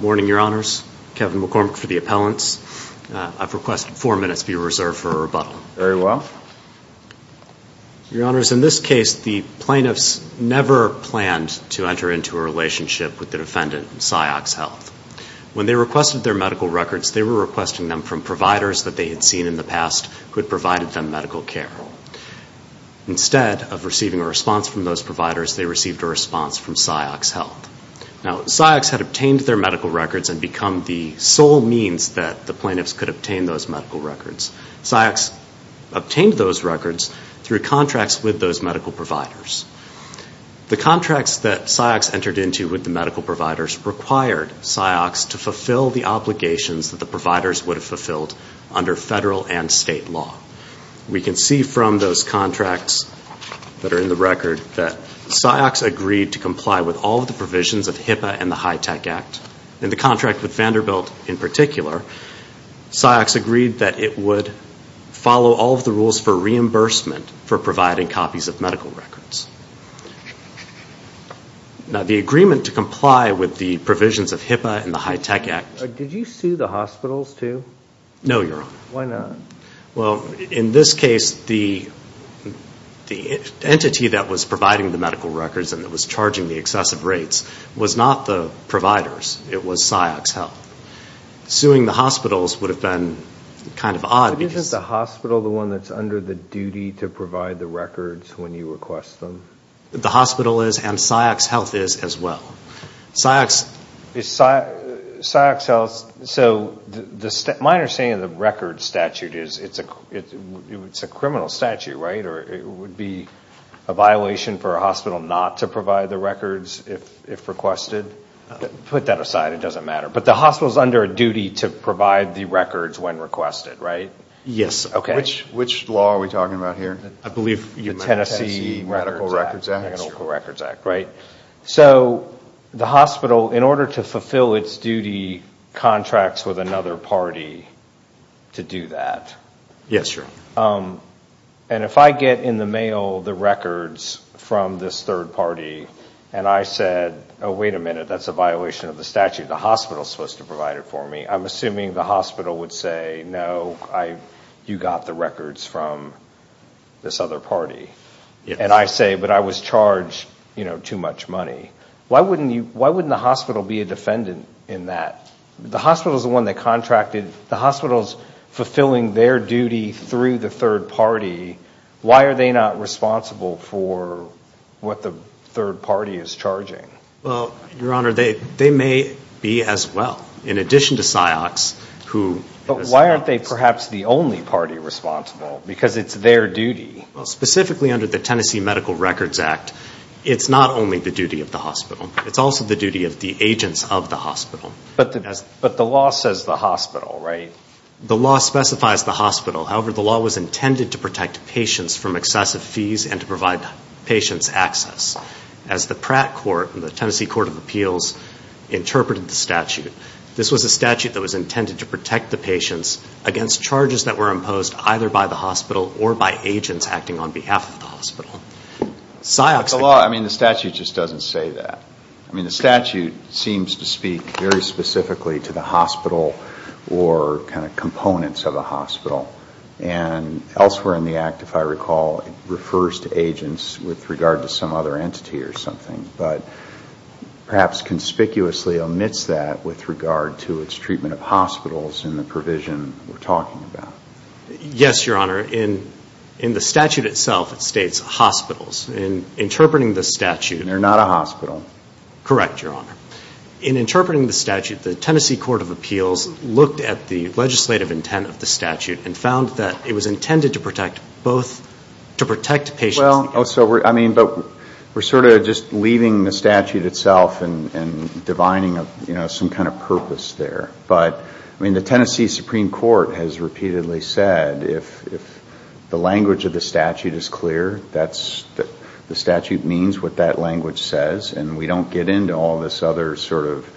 Morning, Your Honors. Kevin McCormick for the appellants. I've requested four minutes be reserved for a rebuttal. Very well. Your Honors, in this case the plaintiffs never planned to enter into a relationship with the defendant in Ciox Health. When they requested their medical records, they were requesting them from providers that they had seen in the past who had provided them medical care. Instead of receiving a response from those providers, they received a response from Ciox Health. Now, Ciox had obtained their medical records and become the sole means that the plaintiffs could obtain those medical records. Ciox obtained those records through contracts with those medical providers. The contracts that Ciox entered into with the medical providers required Ciox to fulfill the obligations that the providers would have fulfilled under federal and state law. We can see from those contracts that are in the record that Ciox agreed to comply with all the provisions of HIPAA and the HITECH Act. In the contract with Vanderbilt in particular, Ciox agreed that it would follow all of the rules for reimbursement for providing copies of medical records. Now, the agreement to comply with the provisions of HIPAA and the HITECH Act... Did you sue the hospitals, too? No, Your Honor. Why not? Well, in this case, the entity that was providing the medical records and that was charging the excessive rates was not the providers. It was Ciox Health. Suing the hospitals would have been kind of odd because... But isn't the hospital the one that's under the duty to provide the records when you request them? The hospital is and Ciox Health is as well. Ciox... Is Ciox Health... So, the minor saying in the medical records statute is it's a criminal statute, right? Or it would be a violation for a hospital not to provide the records if requested? Put that aside. It doesn't matter. But the hospital is under a duty to provide the records when requested, right? Yes. Okay. Which law are we talking about here? I believe the Tennessee Medical Records Act. The Tennessee Medical Records Act, right? The hospital, in order to fulfill its duty, contracts with another party to do that. Yes, Your Honor. If I get in the mail the records from this third party and I said, oh, wait a minute, that's a violation of the statute. The hospital is supposed to provide it for me. I'm assuming the hospital would say, no, you got the records from this other party. And I say, but I was charged, you know, too much money. Why wouldn't the hospital be a defendant in that? The hospital is the one that contracted... The hospital is fulfilling their duty through the third party. Why are they not responsible for what the third party is charging? Well, Your Honor, they may be as well. In addition to Ciox, who... But why aren't they perhaps the only party responsible? Because it's their duty. Well, specifically under the Tennessee Medical Records Act, it's not only the duty of the hospital. It's also the duty of the agents of the hospital. But the law says the hospital, right? The law specifies the hospital. However, the law was intended to protect patients from excessive fees and to provide patients access. As the Pratt Court and the Tennessee Court of Appeals interpreted the statute, this was a statute that was intended to protect the patients either by the hospital or by agents acting on behalf of the hospital. Ciox... The law... I mean, the statute just doesn't say that. I mean, the statute seems to speak very specifically to the hospital or kind of components of the hospital. And elsewhere in the act, if I recall, it refers to agents with regard to some other entity or something. But perhaps conspicuously omits that with regard to its treatment of hospitals in the state. Yes, Your Honor. In the statute itself, it states hospitals. In interpreting the statute... And they're not a hospital. Correct, Your Honor. In interpreting the statute, the Tennessee Court of Appeals looked at the legislative intent of the statute and found that it was intended to protect both, to protect patients... Well, also, I mean, but we're sort of just leaving the statute itself and divining, you know, some kind of purpose there. But, I mean, the Tennessee Supreme Court has repeatedly said, if the language of the statute is clear, the statute means what that language says, and we don't get into all this other sort of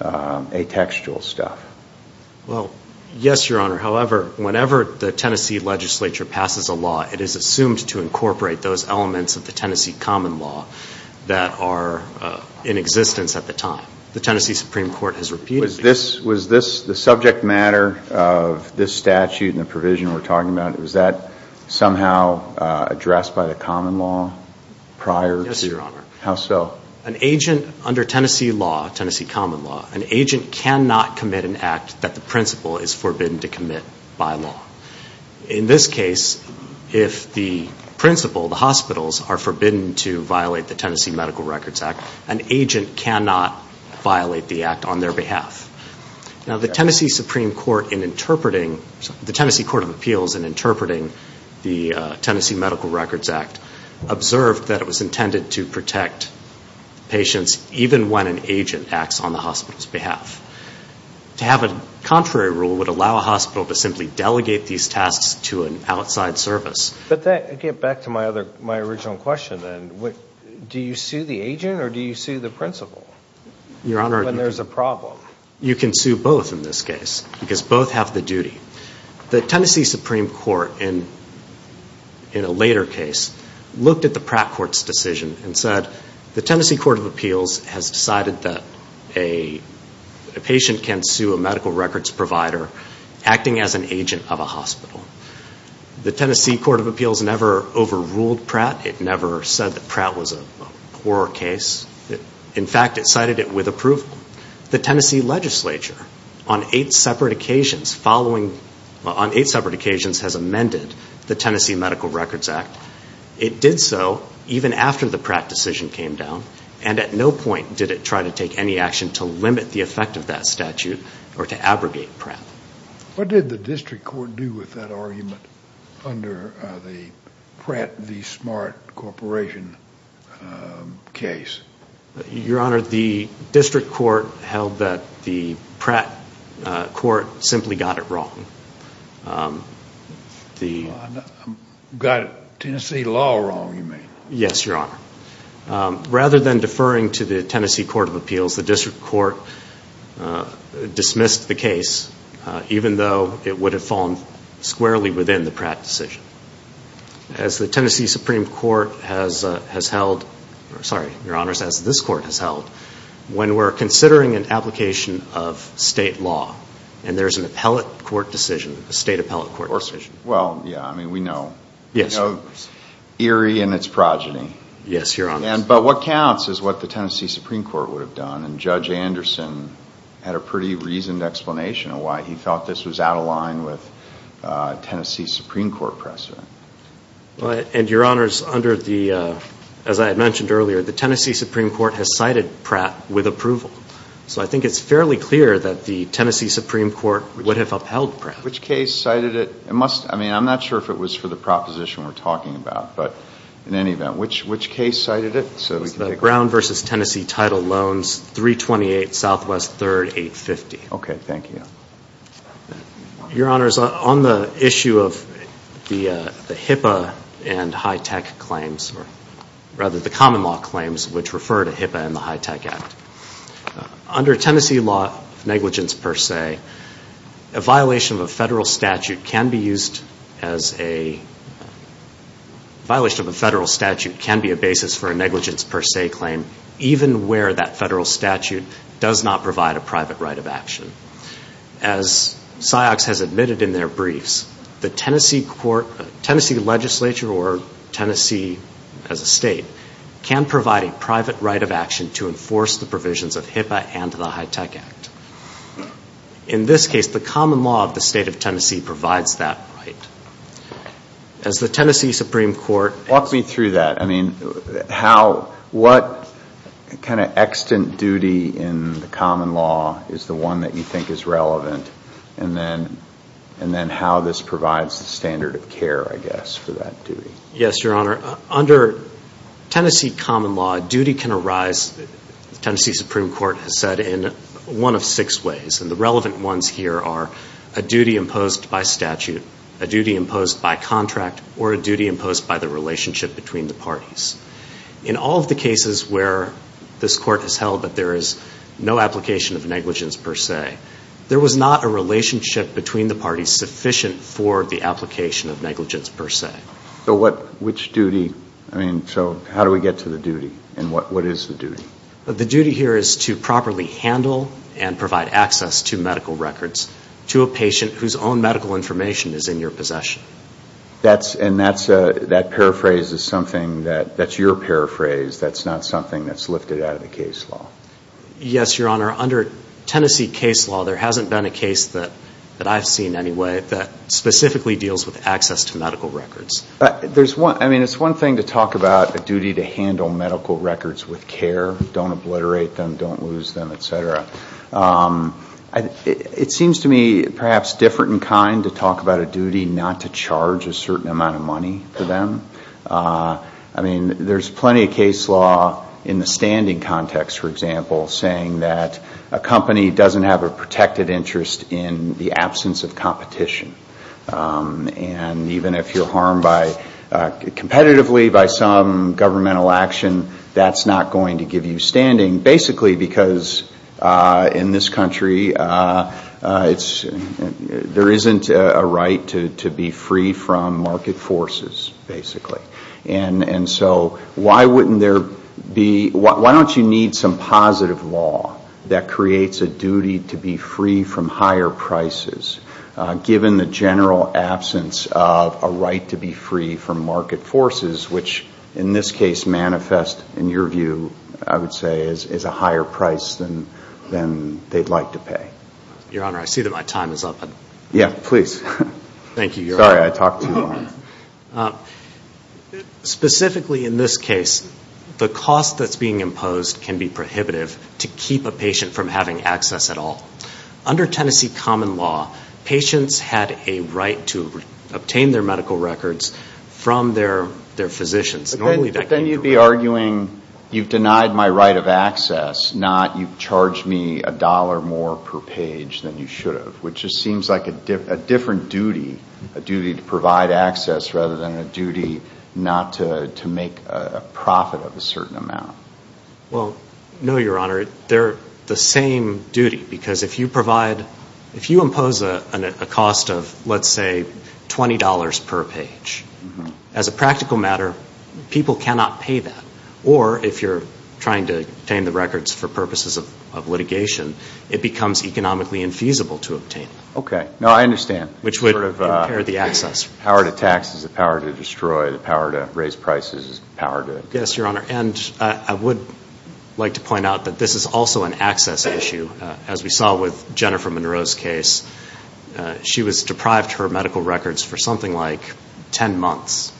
atextual stuff. Well, yes, Your Honor. However, whenever the Tennessee legislature passes a law, it is assumed to incorporate those elements of the Tennessee common law that are in existence at the time. The Tennessee Supreme Court has repeatedly... Was this... The subject matter of this statute and the provision we're talking about, was that somehow addressed by the common law prior to... Yes, Your Honor. How so? An agent under Tennessee law, Tennessee common law, an agent cannot commit an act that the principal is forbidden to commit by law. In this case, if the principal, the hospitals, are forbidden to violate the Tennessee Supreme Court in interpreting... The Tennessee Court of Appeals in interpreting the Tennessee Medical Records Act observed that it was intended to protect patients even when an agent acts on the hospital's behalf. To have a contrary rule would allow a hospital to simply delegate these tasks to an outside service. But that... Again, back to my other... My original question, then. Do you sue the agent or do you sue the principal? Your Honor... In this case, because both have the duty, the Tennessee Supreme Court in a later case looked at the Pratt Court's decision and said, the Tennessee Court of Appeals has decided that a patient can sue a medical records provider acting as an agent of a hospital. The Tennessee Court of Appeals never overruled Pratt. It never said that Pratt was a poorer case. In fact, it cited it with approval. The Tennessee legislature on eight separate occasions has amended the Tennessee Medical Records Act. It did so even after the Pratt decision came down and at no point did it try to take any action to limit the effect of that statute or to abrogate Pratt. What did the district court do with that argument under the Pratt, the Smart Corporation case? Your Honor, the district court held that the Pratt court simply got it wrong. Got Tennessee law wrong, you mean? Yes, Your Honor. Rather than deferring to the Tennessee Court of Appeals, the district court dismissed the case even though it would have fallen squarely within the Pratt decision. As the Tennessee Supreme Court has held, sorry, Your Honor, as this court has held, when we're considering an application of state law and there's an appellate court decision, a state appellate court decision. Well, yeah, I mean, we know. Yes. We know eerie in its progeny. Yes, Your Honor. But what counts is what the Tennessee Supreme Court would have done and Judge Anderson had a pretty reasoned explanation of why he thought this was out of line with Tennessee Supreme Court precedent. And Your Honor, under the, as I had mentioned earlier, the Tennessee Supreme Court has cited Pratt with approval. So I think it's fairly clear that the Tennessee Supreme Court would have upheld Pratt. Which case cited it? It must, I mean, I'm not sure if it was for the proposition we're talking about, but in any event, which case cited it? It was the Brown v. Tennessee Title Loans, 328 Southwest 3rd, 850. Okay. Thank you. Your Honor, on the issue of the HIPAA and high tech claims, or rather the common law claims, which refer to HIPAA and the High Tech Act, under Tennessee law of negligence per se, a violation of a federal statute can be used as a violation of a federal statute can be a basis for a negligence per se claim, even where that federal statute does not provide a private right of action. As SIOX has admitted in their briefs, the Tennessee court, Tennessee legislature or Tennessee as a state, can provide a private right of action to enforce the provisions of HIPAA and the High Tech Act. In this case, the common law of the state of Tennessee provides that right. As the Tennessee Supreme Court... Walk me through that. I mean, how, what kind of extant duty in the common law is the one that you think is relevant? And then, and then how this provides the standard of care, I guess, for that duty? Yes, Your Honor. Under Tennessee common law, duty can arise, the Tennessee Supreme Court has said, in one of six ways, and the relevant ones here are a duty imposed by statute, a duty imposed by contract, or a duty imposed by the relationship between the parties. In all of the cases where this court has held that there is no application of negligence per se, there was not a relationship between the parties sufficient for the application of negligence per se. So what, which duty, I mean, so how do we get to the duty? And what, what is the duty? The duty here is to provide access to medical records to a patient whose own medical information is in your possession. That's, and that's a, that paraphrase is something that, that's your paraphrase, that's not something that's lifted out of the case law. Yes, Your Honor. Under Tennessee case law, there hasn't been a case that, that I've seen anyway that specifically deals with access to medical records. There's one, I mean, it's one thing to talk about a duty to handle medical records with care, don't obliterate them, don't lose them, et cetera. It seems to me perhaps different in kind to talk about a duty not to charge a certain amount of money for them. I mean, there's plenty of case law in the standing context, for example, saying that a company doesn't have a protected interest in the absence of competition. And even if you're harmed by, competitively by some governmental action, that's not going to give you standing. Basically because in this country, it's, there isn't a right to be free from market forces, basically. And so why wouldn't there be, why don't you need some positive law that creates a duty to be free from higher prices, given the general absence of a right to be free from market forces, which in this case manifest, in your view, I would say, is a higher price than they'd like to pay? Your Honor, I see that my time is up. Yeah, please. Thank you, Your Honor. Sorry, I talked too long. Specifically in this case, the cost that's being imposed can be prohibitive to keep a patient from having access at all. Under Tennessee common law, patients had a right to obtain their medical records from their physicians. Normally that can't be required. But then you'd be arguing, you've denied my right of access, not you've charged me a dollar more per page than you should have, which just seems like a different duty, a duty to provide access rather than a duty not to make a profit of a certain amount. Well, no, Your Honor, they're the same duty. Because if you provide, if you impose a cost of, let's say, $20 per page, as a practical matter, people cannot pay that. Or if you're trying to obtain the records for purposes of litigation, it becomes economically infeasible to obtain. Okay. No, I understand. Which would impair the access. The power to And I would like to point out that this is also an access issue. As we saw with Jennifer Monroe's case, she was deprived her medical records for something like 10 months.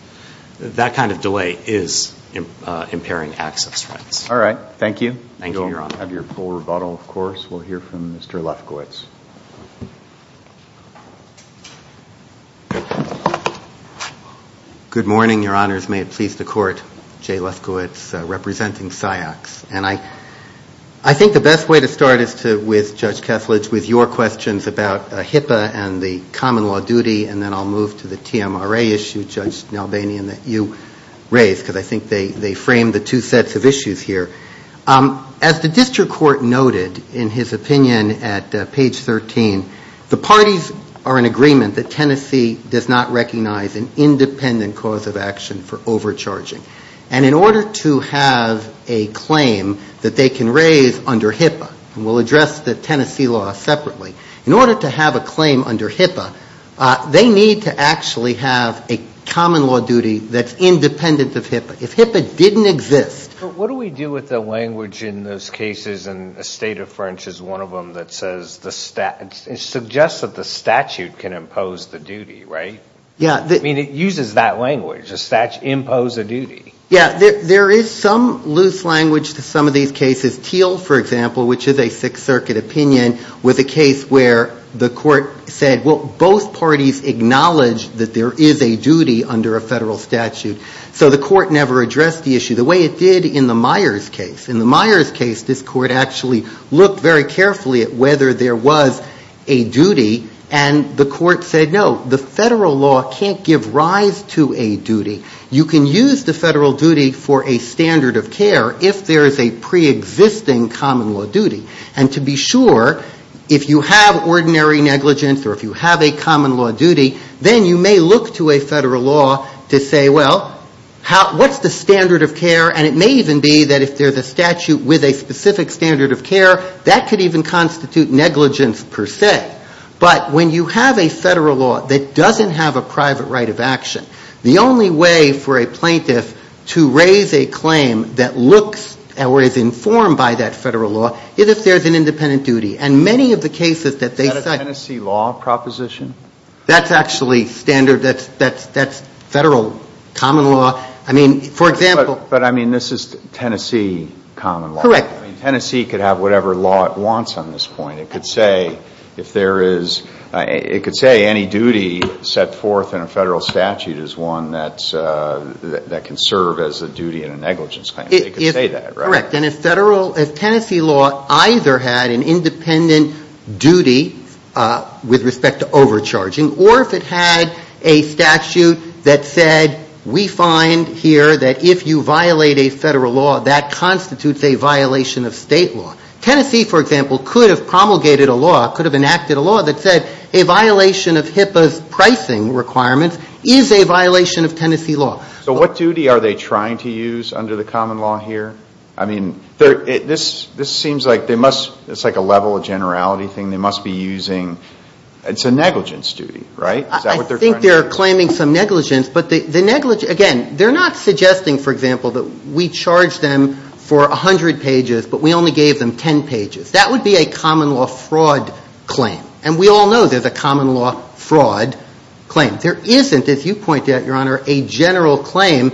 That kind of delay is impairing access rights. All right. Thank you. Thank you, Your Honor. We'll have your full rebuttal, of course. We'll hear from Mr. Lefkowitz. Good morning, Your Honors. May it please the Court, Jay Lefkowitz, representing SIOCs. And I think the best way to start is to, with Judge Kesslidge, with your questions about HIPAA and the common law duty. And then I'll move to the TMRA issue, Judge Nalbanian, that you raised. Because I think they framed the two sets of issues here. As the district court noted in his opinion at page 13, the parties are in agreement that Tennessee does not recognize an independent cause of action for overcharging. And in order to have a claim that they can raise under HIPAA, and we'll address the Tennessee law separately, in order to have a claim under HIPAA, they need to actually have a common law duty that's independent of HIPAA. If HIPAA didn't exist. What do we do with the language in those cases? And the State of French is one of them that says the statute, it suggests that the statute can impose the duty, right? Yeah. I mean, it uses that language, the statute impose a duty. Yeah. There is some loose language to some of these cases. Teal, for example, which is a Sixth Circuit opinion, was a case where the court said, well, both parties acknowledge that there is a duty under a federal statute. So the court never addressed the issue the way it did in the Myers case. In the Myers case, this court actually looked very carefully at whether there was a duty, and the court said, no, the federal law can't give rise to a duty. You can use the federal duty for a standard of care if there is a preexisting common law duty. And to be sure, if you have ordinary negligence or if you have a common law duty, then you may look to a federal law to say, well, what's the standard of care? And it may even be that if there's a statute with a specific standard of care, that could even constitute negligence per se. But when you have a federal law that doesn't have a private right of action, the only way for a plaintiff to raise a claim that looks or is informed by that federal law is if there's an independent duty. And many of the cases that they cite Is that a Tennessee law proposition? That's actually standard. That's federal common law. I mean, for example But, I mean, this is Tennessee common law. Correct. I mean, Tennessee could have whatever law it wants on this point. It could say if there is, it could say any duty set forth in a federal statute is one that can serve as a duty in a negligence claim. It could say that, right? Correct. And if federal, if Tennessee law either had an independent duty with respect to overcharging, or if it had a statute that said, we find here that if you violate a federal law, that constitutes a violation of state law. Tennessee, for example, could have promulgated a law, could have enacted a law that said a violation of HIPAA's pricing requirements is a violation of Tennessee law. So what duty are they trying to use under the common law here? I mean, this seems like they must, it's like a level of generality thing they must be using. It's a negligence duty, right? Is that what they're trying to do? I think they're claiming some negligence. But the negligence, again, they're not suggesting, for example, that we charge them for 100 pages, but we only gave them 10 pages. That would be a common law fraud claim. And we all know there's a common law fraud claim. There isn't, as you point out, Your Honor, a general claim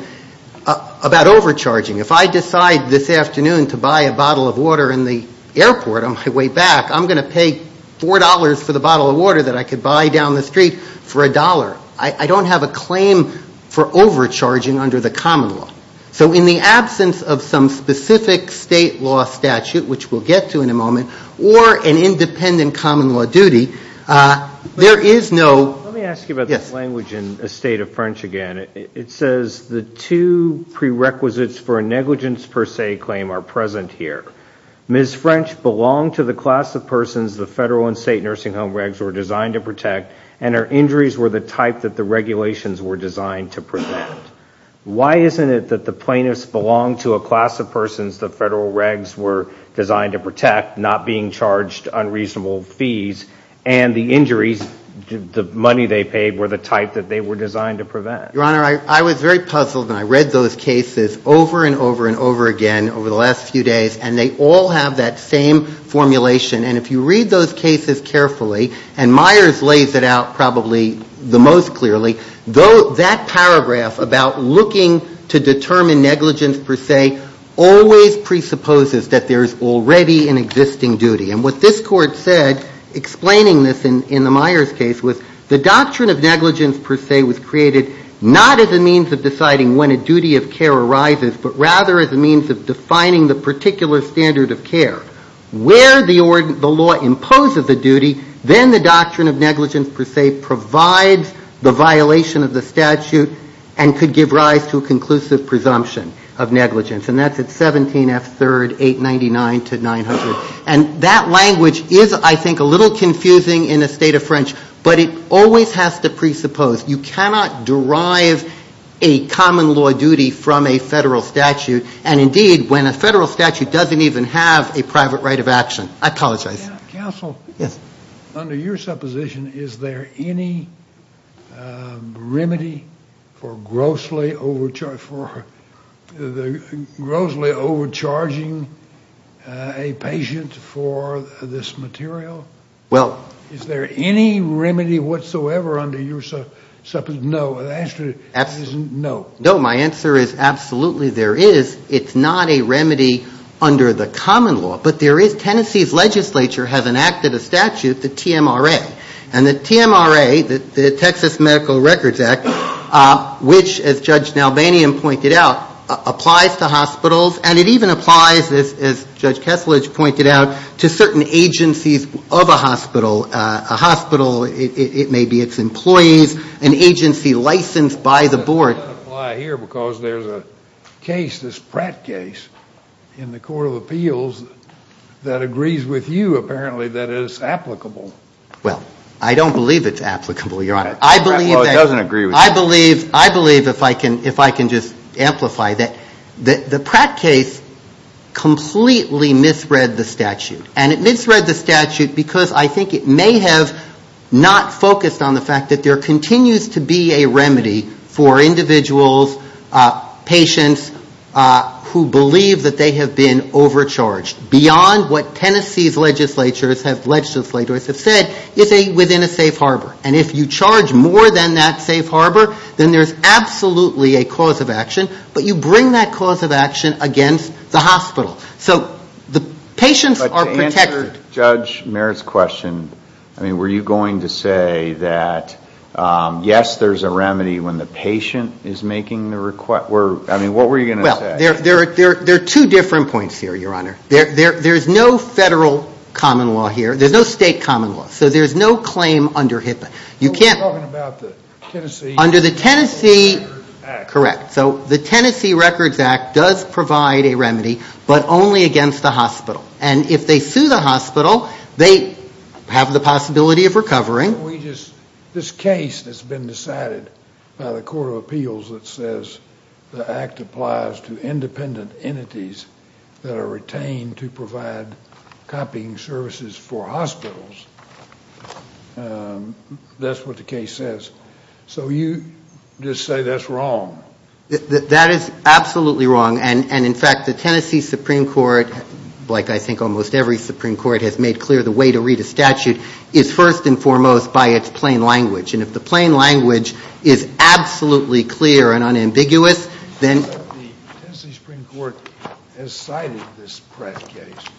about overcharging. If I decide this afternoon to buy a bottle of water in the airport on my way back, I'm going to pay $4 for the bottle of water that I could buy down the street for $1. I don't have a claim for overcharging under the common law. So in the absence of some specific state law statute, which we'll get to in a moment, or an independent common law duty, there is no... Let me ask you about this language in a state of French again. It says the two prerequisites for a negligence per se claim are present here. Ms. French belonged to the class of persons the federal and state nursing home regs were designed to protect, and her injuries were the type that the regulations were designed to prevent. Why isn't it that the plaintiffs belonged to a class of persons the federal regs were designed to protect, not being charged unreasonable fees, and the injuries, the money they paid, were the type that they were designed to prevent? Your Honor, I was very puzzled, and I read those cases over and over and over again over the last few days, and they all have that same formulation. And if you read those cases carefully, and Myers lays it out probably the most clearly, that paragraph about looking to determine negligence per se always presupposes that there is already an existing duty. And what this Court said, explaining this in the Myers case, was the doctrine of negligence per se was created not as a means of deciding when a duty of care arises, but rather as a means of defining the particular standard of care. Where the law imposes a duty, then the doctrine of negligence per se provides the violation of the statute and could give rise to a conclusive presumption of negligence. And that's at 17F3, 899 to 900. And that language is, I think, a little confusing in a state of French, but it always has to happen. And indeed, when a federal statute doesn't even have a private right of action. I apologize. Counsel, under your supposition, is there any remedy for grossly overcharging a patient for this material? Is there any remedy whatsoever under your supposition? No. The answer is no. My answer is absolutely there is. It's not a remedy under the common law. But there is Tennessee's legislature has enacted a statute, the TMRA. And the TMRA, the Texas Medical Records Act, which, as Judge Nalbanian pointed out, applies to hospitals and it even applies, as Judge Kessler has pointed out, to certain agencies of a hospital. A hospital, it may be its employees, an agency licensed by the board. It doesn't apply here because there's a case, this Pratt case, in the Court of Appeals that agrees with you, apparently, that it is applicable. Well, I don't believe it's applicable, Your Honor. I believe that... Well, it doesn't agree with you. I believe, if I can just amplify, that the Pratt case completely misread the statute. And it misread the statute because I think it may have not focused on the fact that there are individuals, patients, who believe that they have been overcharged. Beyond what Tennessee's legislatures have said, it's within a safe harbor. And if you charge more than that safe harbor, then there's absolutely a cause of action. But you bring that cause of action against the hospital. So the patients are protected. But to answer Judge Merritt's question, I mean, were you going to say that, yes, there's a remedy when the patient is making the request? I mean, what were you going to say? There are two different points here, Your Honor. There's no federal common law here. There's no state common law. So there's no claim under HIPAA. You're talking about the Tennessee... Under the Tennessee, correct. So the Tennessee Records Act does provide a remedy, but only against the hospital. And if they sue the hospital, they have the possibility of recovering. Can we just... This case has been decided by the Court of Appeals that says the Act applies to independent entities that are retained to provide copying services for hospitals. That's what the case says. So you just say that's wrong. That is absolutely wrong. And in fact, the Tennessee Supreme Court, like I think almost every Supreme Court, has made clear the way to read a statute is first and foremost by its plain language. And if the plain language is absolutely clear and unambiguous, then...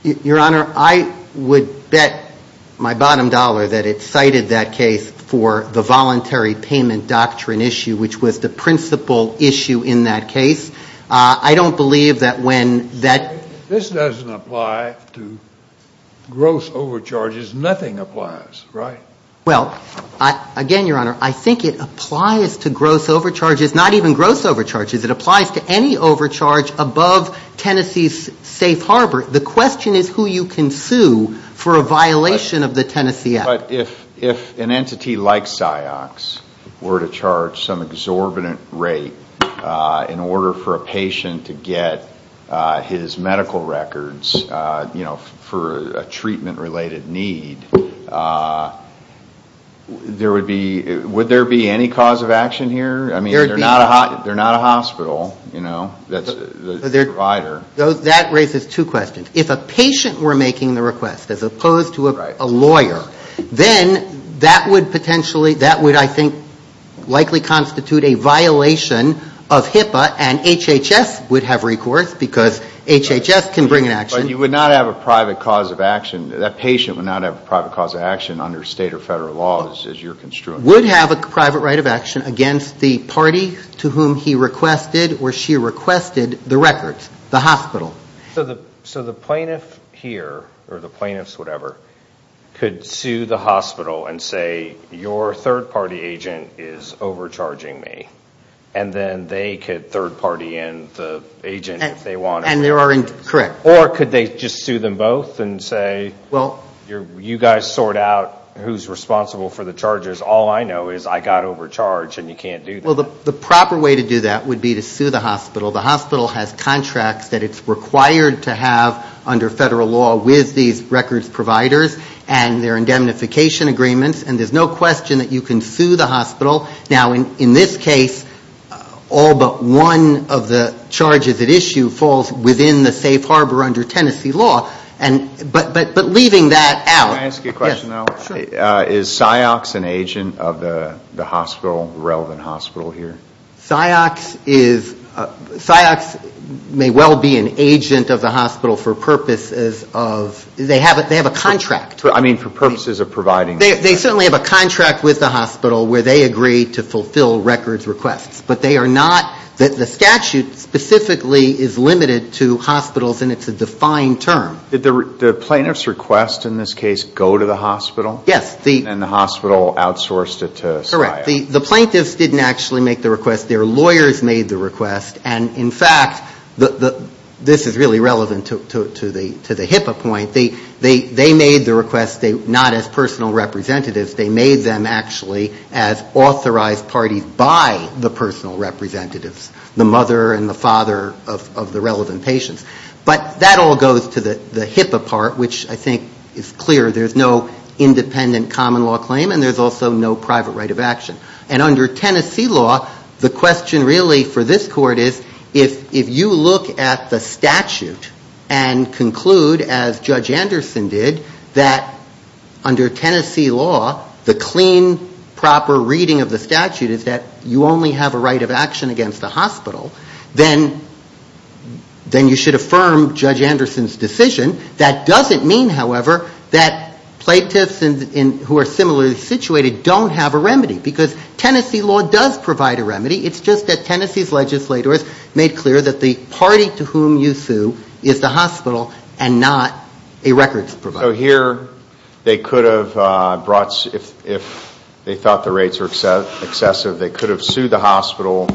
Your Honor, I would bet my bottom dollar that it cited that case for the voluntary payment doctrine issue, which was the principal issue in that case. I don't believe that when that... This doesn't apply to gross overcharges. Nothing applies, right? Well, again, Your Honor, I think it applies to gross overcharges, not even gross overcharges. It applies to any overcharge above Tennessee's safe harbor. The question is who you can sue for a violation of the Tennessee Act. But if an entity like PsyOx were to charge some exorbitant rate in order for a patient to get his medical records, you know, for a treatment-related need, there would be... Would there be any cause of action here? I mean, they're not a hospital, you know? That's the provider. That raises two questions. If a patient were making the request, as opposed to a lawyer, then that would potentially, that would, I think, likely constitute a violation of HIPAA and HHS would have recourse, because HHS can bring an action. But you would not have a private cause of action, that patient would not have a private cause of action under state or federal laws, as you're construing. Would have a private right of action against the party to whom he requested or she requested the records, the hospital. So the plaintiff here, or the plaintiff's whatever, could sue the hospital and say, your third-party agent is overcharging me. And then they could third-party in the agent if they wanted. And there are... Correct. Or could they just sue them both and say, you guys sort out who's responsible for the charges, all I know is I got overcharged and you can't do that. The proper way to do that would be to sue the hospital. The hospital has contracts that it's required to have under federal law with these records providers and their indemnification agreements, and there's no question that you can sue the hospital. Now, in this case, all but one of the charges at issue falls within the safe harbor under Tennessee law. But leaving that out... Can I ask you a question now? Yes. Sure. Is PsyOx an agent of the hospital, relevant hospital here? PsyOx may well be an agent of the hospital for purposes of... They have a contract. I mean, for purposes of providing... They certainly have a contract with the hospital where they agree to fulfill records requests. But they are not... The statute specifically is limited to hospitals and it's a defined term. Did the plaintiff's request in this case go to the hospital? Yes. And the hospital outsourced it to PsyOx? The plaintiffs didn't actually make the request. Their lawyers made the request. And in fact, this is really relevant to the HIPAA point. They made the request not as personal representatives. They made them actually as authorized parties by the personal representatives, the mother and the father of the relevant patients. But that all goes to the HIPAA part, which I think is clear. There's no independent common law claim and there's also no private right of action. And under Tennessee law, the question really for this court is, if you look at the statute and conclude as Judge Anderson did, that under Tennessee law, the clean, proper reading of the statute is that you only have a right of action against the hospital, then you should affirm Judge Anderson's decision. That doesn't mean, however, that plaintiffs who are similarly situated don't have a remedy because Tennessee law does provide a remedy. It's just that Tennessee's legislators made clear that the party to whom you sue is the hospital and not a records provider. So here, they could have brought, if they thought the rates were excessive, they could have sued the hospital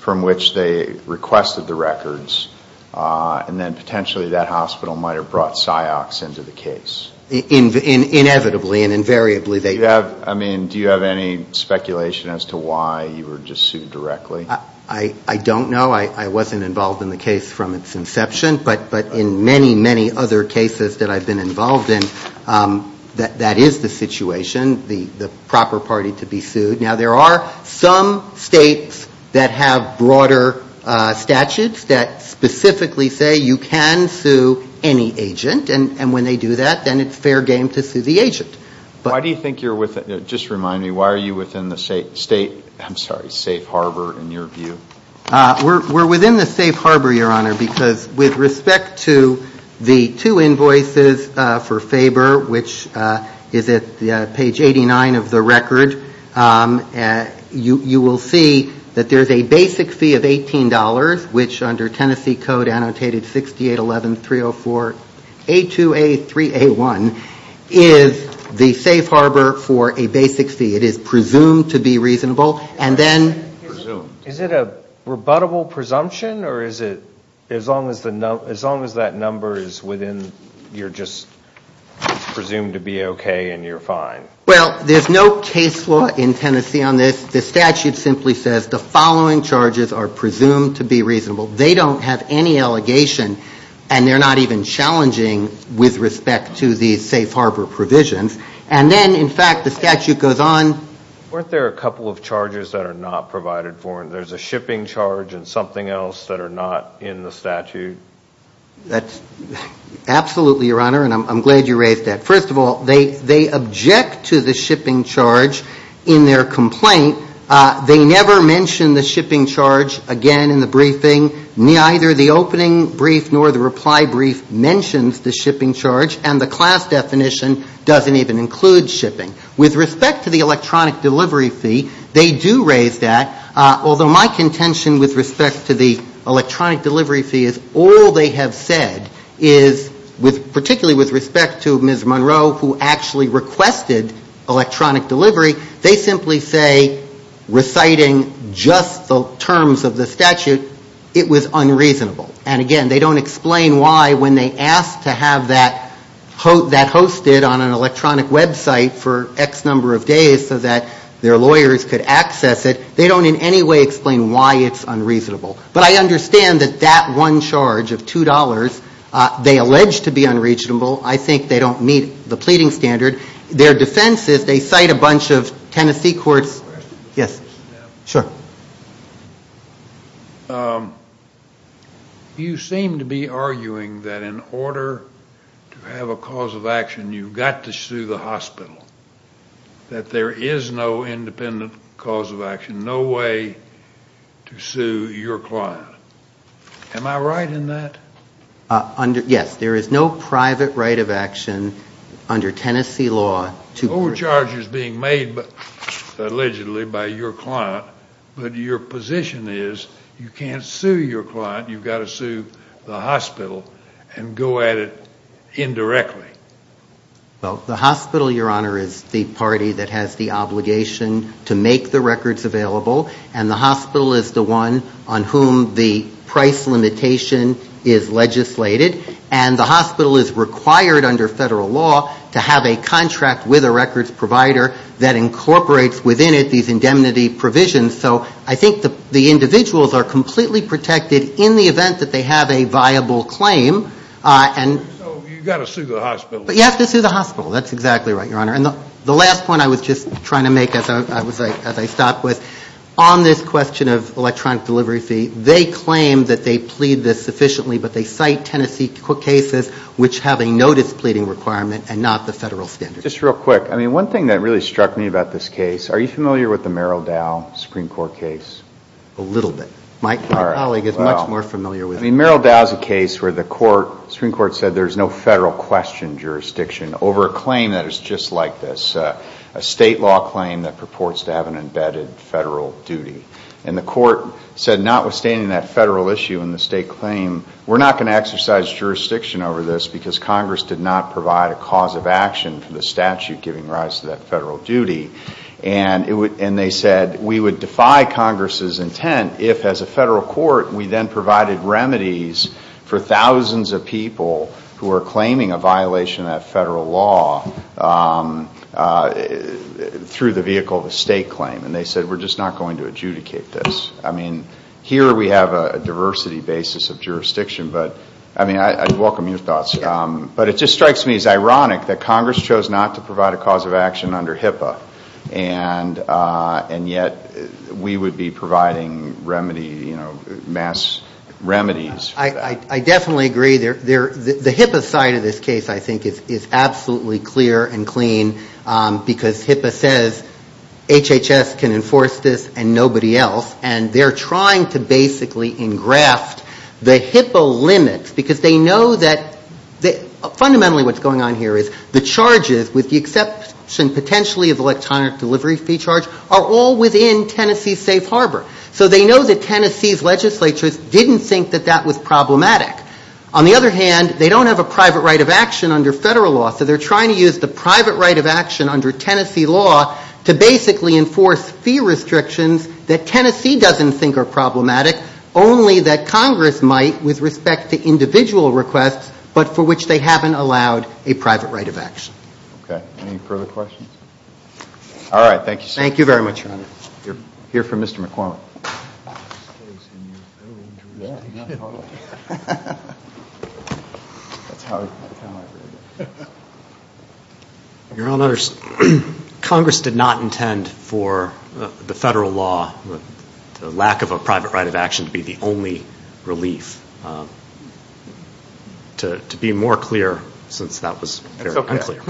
from which they requested the records and then potentially that hospital might have brought PsyOx into the case? Inevitably and invariably they would. Do you have any speculation as to why you were just sued directly? I don't know. I wasn't involved in the case from its inception. But in many, many other cases that I've been involved in, that is the situation, the proper party to be sued. Now, there are some states that have broader statutes that specifically say you can sue any agent and when they do that, then it's fair game to sue the agent. Why do you think you're within, just remind me, why are you within the state, I'm sorry, safe harbor in your view? We're within the safe harbor, Your Honor, because with respect to the two invoices for Faber, which is at page 89 of the record, you will see that there's a basic fee of $18 which under Tennessee code annotated 6811304A2A3A1 is the safe harbor for a basic fee. It is presumed to be reasonable. And then... Presumed. Is it a rebuttable presumption or is it as long as that number is within, you're just presumed to be okay and you're fine? Well, there's no case law in Tennessee on this. The statute simply says the following charges are presumed to be reasonable. They don't have any allegation and they're not even challenging with respect to the safe harbor provisions. And then, in fact, the statute goes on... Weren't there a couple of charges that are not provided for and there's a shipping charge and something else that are not in the statute? Absolutely, Your Honor, and I'm glad you raised that. First of all, they object to the shipping charge in their complaint. They never mention the shipping charge again in the briefing, neither the opening brief nor the reply brief mentions the shipping charge and the class definition doesn't even include shipping. With respect to the electronic delivery fee, they do raise that, although my contention with respect to the electronic delivery fee is all they have said is, particularly with respect to Ms. Monroe, who actually requested electronic delivery, they simply say, reciting just the terms of the statute, it was unreasonable. And again, they don't explain why when they asked to have that hosted on an electronic website for X number of days so that their lawyers could access it, they don't in any way explain why it's unreasonable. But I understand that that one charge of $2, they allege to be unreasonable. I think they don't meet the pleading standard. Their defense is they cite a bunch of Tennessee courts. Yes, sure. You seem to be arguing that in order to have a cause of action, you've got to sue the hospital, that there is no independent cause of action, no way to sue your client. Am I right in that? Yes, there is no private right of action under Tennessee law to Overcharge is being made, allegedly, by your client, but your position is you can't sue your client, you've got to sue the hospital and go at it indirectly. The hospital, Your Honor, is the party that has the obligation to make the records available, and the hospital is the one on whom the price limitation is legislated. And the hospital is required under federal law to have a contract with a records provider that incorporates within it these indemnity provisions. So I think the individuals are completely protected in the event that they have a viable claim. So you've got to sue the hospital. But you have to sue the hospital, that's exactly right, Your Honor. The last point I was just trying to make as I stopped was, on this question of electronic delivery fee, they claim that they plead this sufficiently, but they cite Tennessee cases which have a notice pleading requirement and not the federal standard. Just real quick, one thing that really struck me about this case, are you familiar with the Merrill Dow Supreme Court case? A little bit. My colleague is much more familiar with it. Merrill Dow is a case where the Supreme Court said there is no federal question jurisdiction over a claim that is just like this. A state law claim that purports to have an embedded federal duty. And the court said notwithstanding that federal issue and the state claim, we're not going to exercise jurisdiction over this because Congress did not provide a cause of action for the statute giving rise to that federal duty. And they said we would defy Congress's intent if as a federal court we then provided remedies for thousands of people who are claiming a violation of federal law through the vehicle of a state claim. And they said we're just not going to adjudicate this. Here we have a diversity basis of jurisdiction, but I welcome your thoughts. But it just strikes me as ironic that Congress chose not to provide a cause of action under HIPAA, and yet we would be providing remedy, mass remedies for this. I definitely agree. The HIPAA side of this case, I think, is absolutely clear and clean because HIPAA says HHS can enforce this and nobody else. And they're trying to basically engraft the HIPAA limits because they know that fundamentally what's going on here is the charges, with the exception potentially of electronic delivery fee charge, are all within Tennessee's safe harbor. So they know that Tennessee's legislatures didn't think that that was problematic. On the other hand, they don't have a private right of action under federal law, so they're trying to use the private right of action under Tennessee law to basically enforce fee restrictions that Tennessee doesn't think are problematic, only that Congress might with respect to individual requests, but for which they haven't allowed a private right of action. Okay. Any further questions? All right. Thank you so much. Thank you very much, Your Honor. We're here for Mr. McCormick. Your Honor, Congress did not intend for the federal law, the lack of a private right of action to be the only relief. To be more clear, since that was unclear.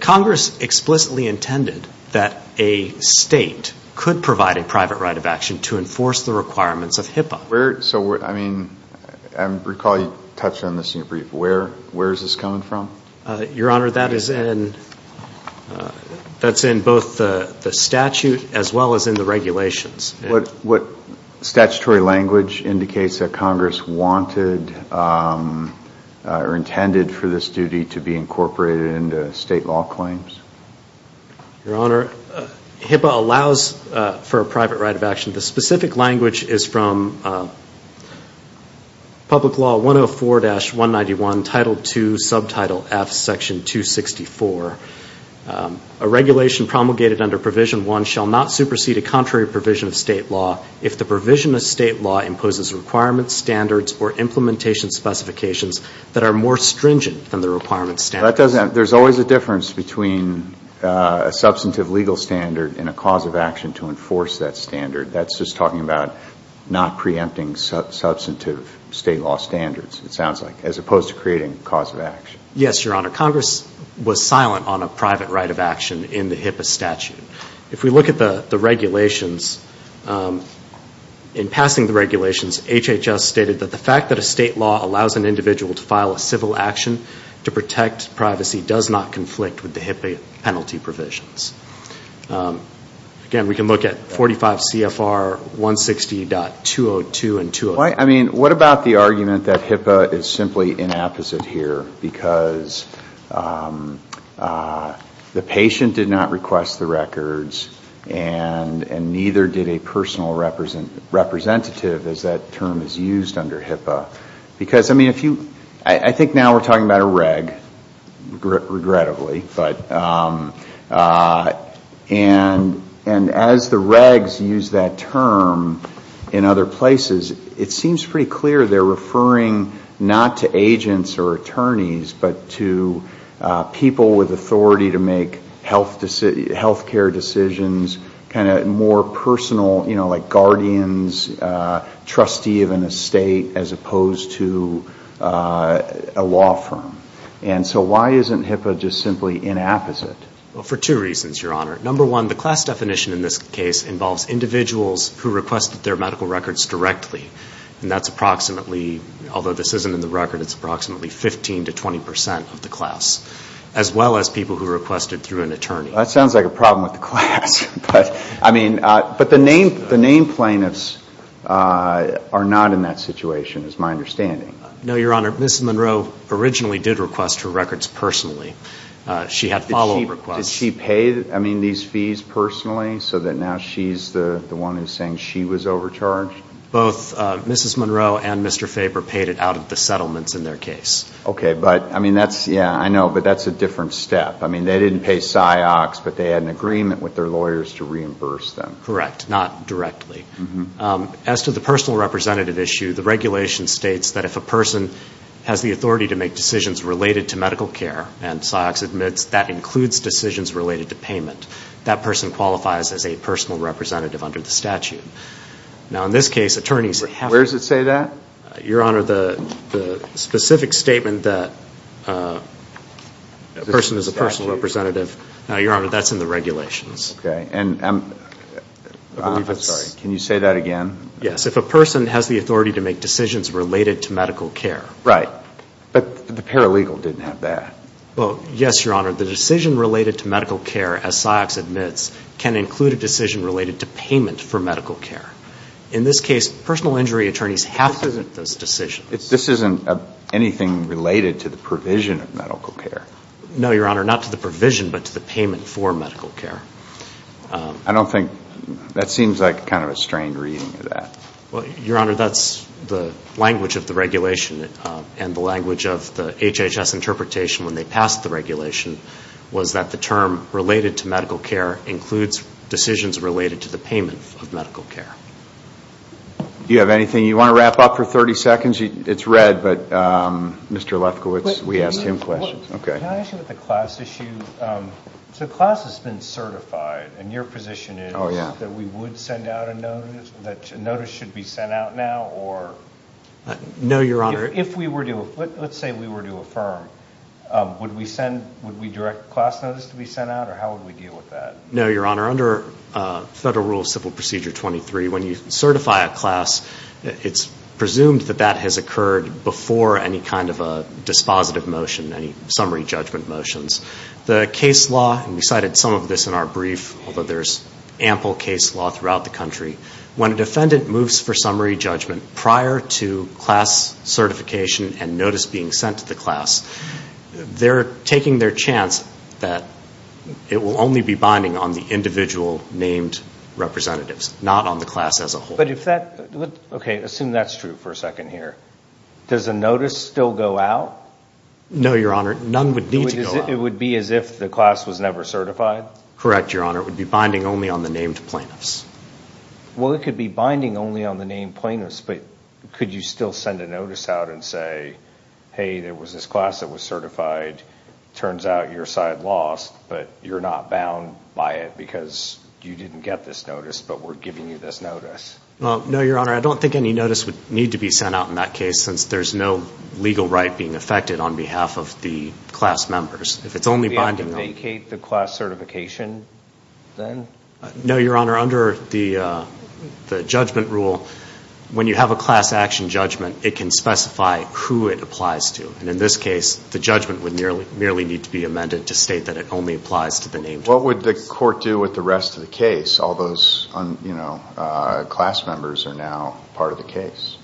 Congress explicitly intended that a state could provide a private right of action to enforce the requirements of HIPAA. So I mean, I recall you touched on this in your brief. Where is this coming from? Your Honor, that's in both the statute as well as in the regulations. What statutory language indicates that Congress wanted or intended for this duty to be incorporated into state law claims? Your Honor, HIPAA allows for a private right of action. The specific language is from Public Law 104-191, Title II, Subtitle F, Section 264. A regulation promulgated under Provision 1 shall not supersede a contrary provision of state law if the provision of state law imposes requirements, standards, or implementation specifications that are more stringent than the requirements standard. There's always a difference between a substantive legal standard and a cause of action to enforce that standard. That's just talking about not preempting substantive state law standards, it sounds like, as opposed to creating a cause of action. Yes, Your Honor. Congress was silent on a private right of action in the HIPAA statute. If we look at the regulations, in passing the regulations, HHS stated that the fact that a state law allows an individual to file a civil action to protect privacy does not conflict with the HIPAA penalty provisions. Again, we can look at 45 CFR 160.202 and 203. What about the argument that HIPAA is simply inapposite here because the patient did not request the records and neither did a personal representative, as that term is used under HIPAA? I think now we're talking about a reg, regrettably, and as the regs use that term in other places, it seems pretty clear they're referring not to agents or attorneys, but to people with authority to make health care decisions, kind of more personal, like guardians, trustee of an estate, as opposed to a law firm. And so why isn't HIPAA just simply inapposite? For two reasons, Your Honor. Number one, the class definition in this case involves individuals who requested their medical records directly, and that's approximately, although this isn't in the record, it's approximately 15 to 20 percent of the class, as well as people who requested through an attorney. That sounds like a problem with the class, but I mean, but the name plaintiffs are not in that situation, is my understanding. No, Your Honor. Mrs. Monroe originally did request her records personally. She had follow-up requests. Did she pay, I mean, these fees personally, so that now she's the one who's saying she was overcharged? Both Mrs. Monroe and Mr. Faber paid it out of the settlements in their case. Okay. But, I mean, that's, yeah, I know, but that's a different step. I mean, they didn't pay PSIOCS, but they had an agreement with their lawyers to reimburse them. Correct. Not directly. As to the personal representative issue, the regulation states that if a person has the authority to make decisions related to medical care, and PSIOCS admits that includes decisions related to payment, that person qualifies as a personal representative under the statute. Now, in this case, attorneys have to Where does it say that? Your Honor, the specific statement that a person is a personal representative, now, Your Honor, that's in the regulations. Okay. And I'm, I'm sorry, can you say that again? Yes. If a person has the authority to make decisions related to medical care. Right. But the paralegal didn't have that. Well, yes, Your Honor. The decision related to medical care, as PSIOCS admits, can include a decision related to payment for medical care. In this case, personal injury attorneys have to make those decisions. This isn't anything related to the provision of medical care. No, Your Honor, not to the provision, but to the payment for medical care. I don't think, that seems like kind of a strange reading of that. Well, Your Honor, that's the language of the regulation, and the language of the HHS interpretation when they passed the regulation, was that the term related to medical care includes decisions related to the payment of medical care. You have anything, you want to wrap up for 30 seconds? It's red, but Mr. Lefkowitz, we asked him questions. Okay. Can I ask you about the class issue? So, the class has been certified, and your position is that we would send out a notice, that a notice should be sent out now, or No, Your Honor. If we were to, let's say we were to affirm, would we send, would we direct a class notice to be sent out, or how would we deal with that? No, Your Honor, under Federal Rule of Civil Procedure 23, when you certify a class, it's presumed that that has occurred before any kind of a dispositive motion, any summary judgment motions. The case law, and we cited some of this in our brief, although there's ample case law throughout the country, when a defendant moves for summary judgment prior to class certification and notice being sent to the class, they're taking their chance that it will only be binding on the individual named representatives, not on the class as a whole. But if that, okay, assume that's true for a second here, does the notice still go out? No, Your Honor, none would need to go out. It would be as if the class was never certified? Correct, Your Honor. Or it would be binding only on the named plaintiffs? Well, it could be binding only on the named plaintiffs, but could you still send a notice out and say, hey, there was this class that was certified, turns out your side lost, but you're not bound by it because you didn't get this notice, but we're giving you this notice? Well, no, Your Honor, I don't think any notice would need to be sent out in that case since there's no legal right being affected on behalf of the class members. If it's only binding on- Does it indicate the class certification then? No, Your Honor, under the judgment rule, when you have a class action judgment, it can specify who it applies to. And in this case, the judgment would merely need to be amended to state that it only applies to the named plaintiffs. What would the court do with the rest of the case? All those class members are now part of the case.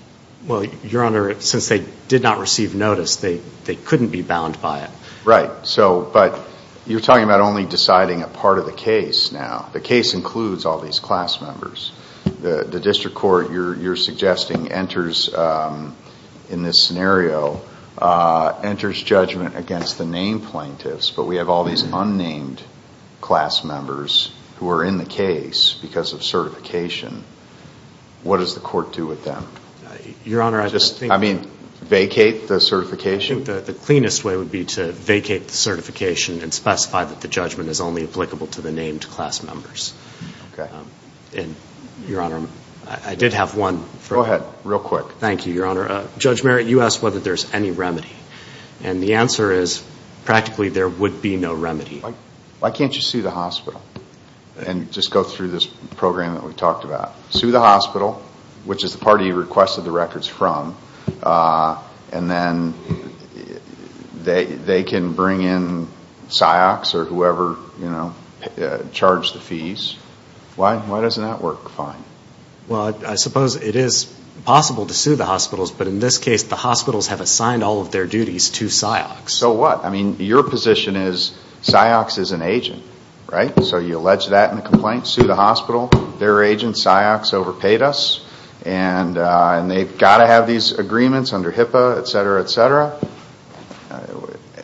Well, Your Honor, since they did not receive notice, they couldn't be bound by it. Right, so, but you're talking about only deciding a part of the case now. The case includes all these class members. The district court, you're suggesting, enters in this scenario, enters judgment against the named plaintiffs, but we have all these unnamed class members who are in the case because of certification. What does the court do with them? Your Honor, I just think- I mean, vacate the certification? I think the cleanest way would be to vacate the certification and specify that the judgment is only applicable to the named class members. Okay. And, Your Honor, I did have one- Go ahead, real quick. Thank you, Your Honor. Judge Merritt, you asked whether there's any remedy, and the answer is, practically, there would be no remedy. Why can't you sue the hospital and just go through this program that we talked about? Sue the hospital, which is the party you requested the records from, and then they can bring in PsyOx or whoever, you know, charge the fees. Why doesn't that work fine? Well, I suppose it is possible to sue the hospitals, but in this case, the hospitals have assigned all of their duties to PsyOx. So what? I mean, your position is PsyOx is an agent, right? So you allege that in the complaint, sue the hospital, their agent, PsyOx, overpaid us, and they've got to have these agreements under HIPAA, et cetera, et cetera.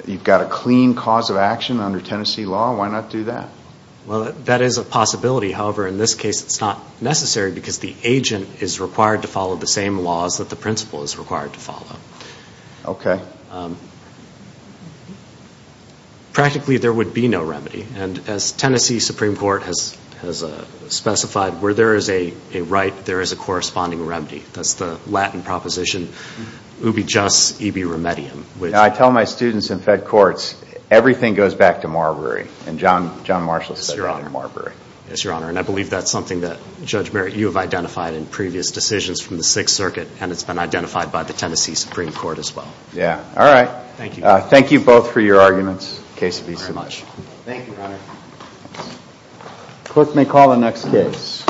You've got a clean cause of action under Tennessee law. Why not do that? Well, that is a possibility. However, in this case, it's not necessary because the agent is required to follow the same laws that the principal is required to follow. Okay. Practically, there would be no remedy. And as Tennessee Supreme Court has specified, where there is a right, there is a corresponding remedy. That's the Latin proposition, ubi just, ibi remedium. I tell my students in Fed courts, everything goes back to Marbury. And John Marshall said it in Marbury. Yes, Your Honor. And I believe that's something that, Judge Merritt, you have identified in previous decisions from the Sixth Circuit, and it's been identified by the Tennessee Supreme Court as well. Yeah. All right. Thank you. Thank you both for your arguments. Thank you very much. Thank you, Your Honor. Clerk may call the next case. Peace and mercy of God. Peace and mercy of God. Peace and mercy of God. Yeah.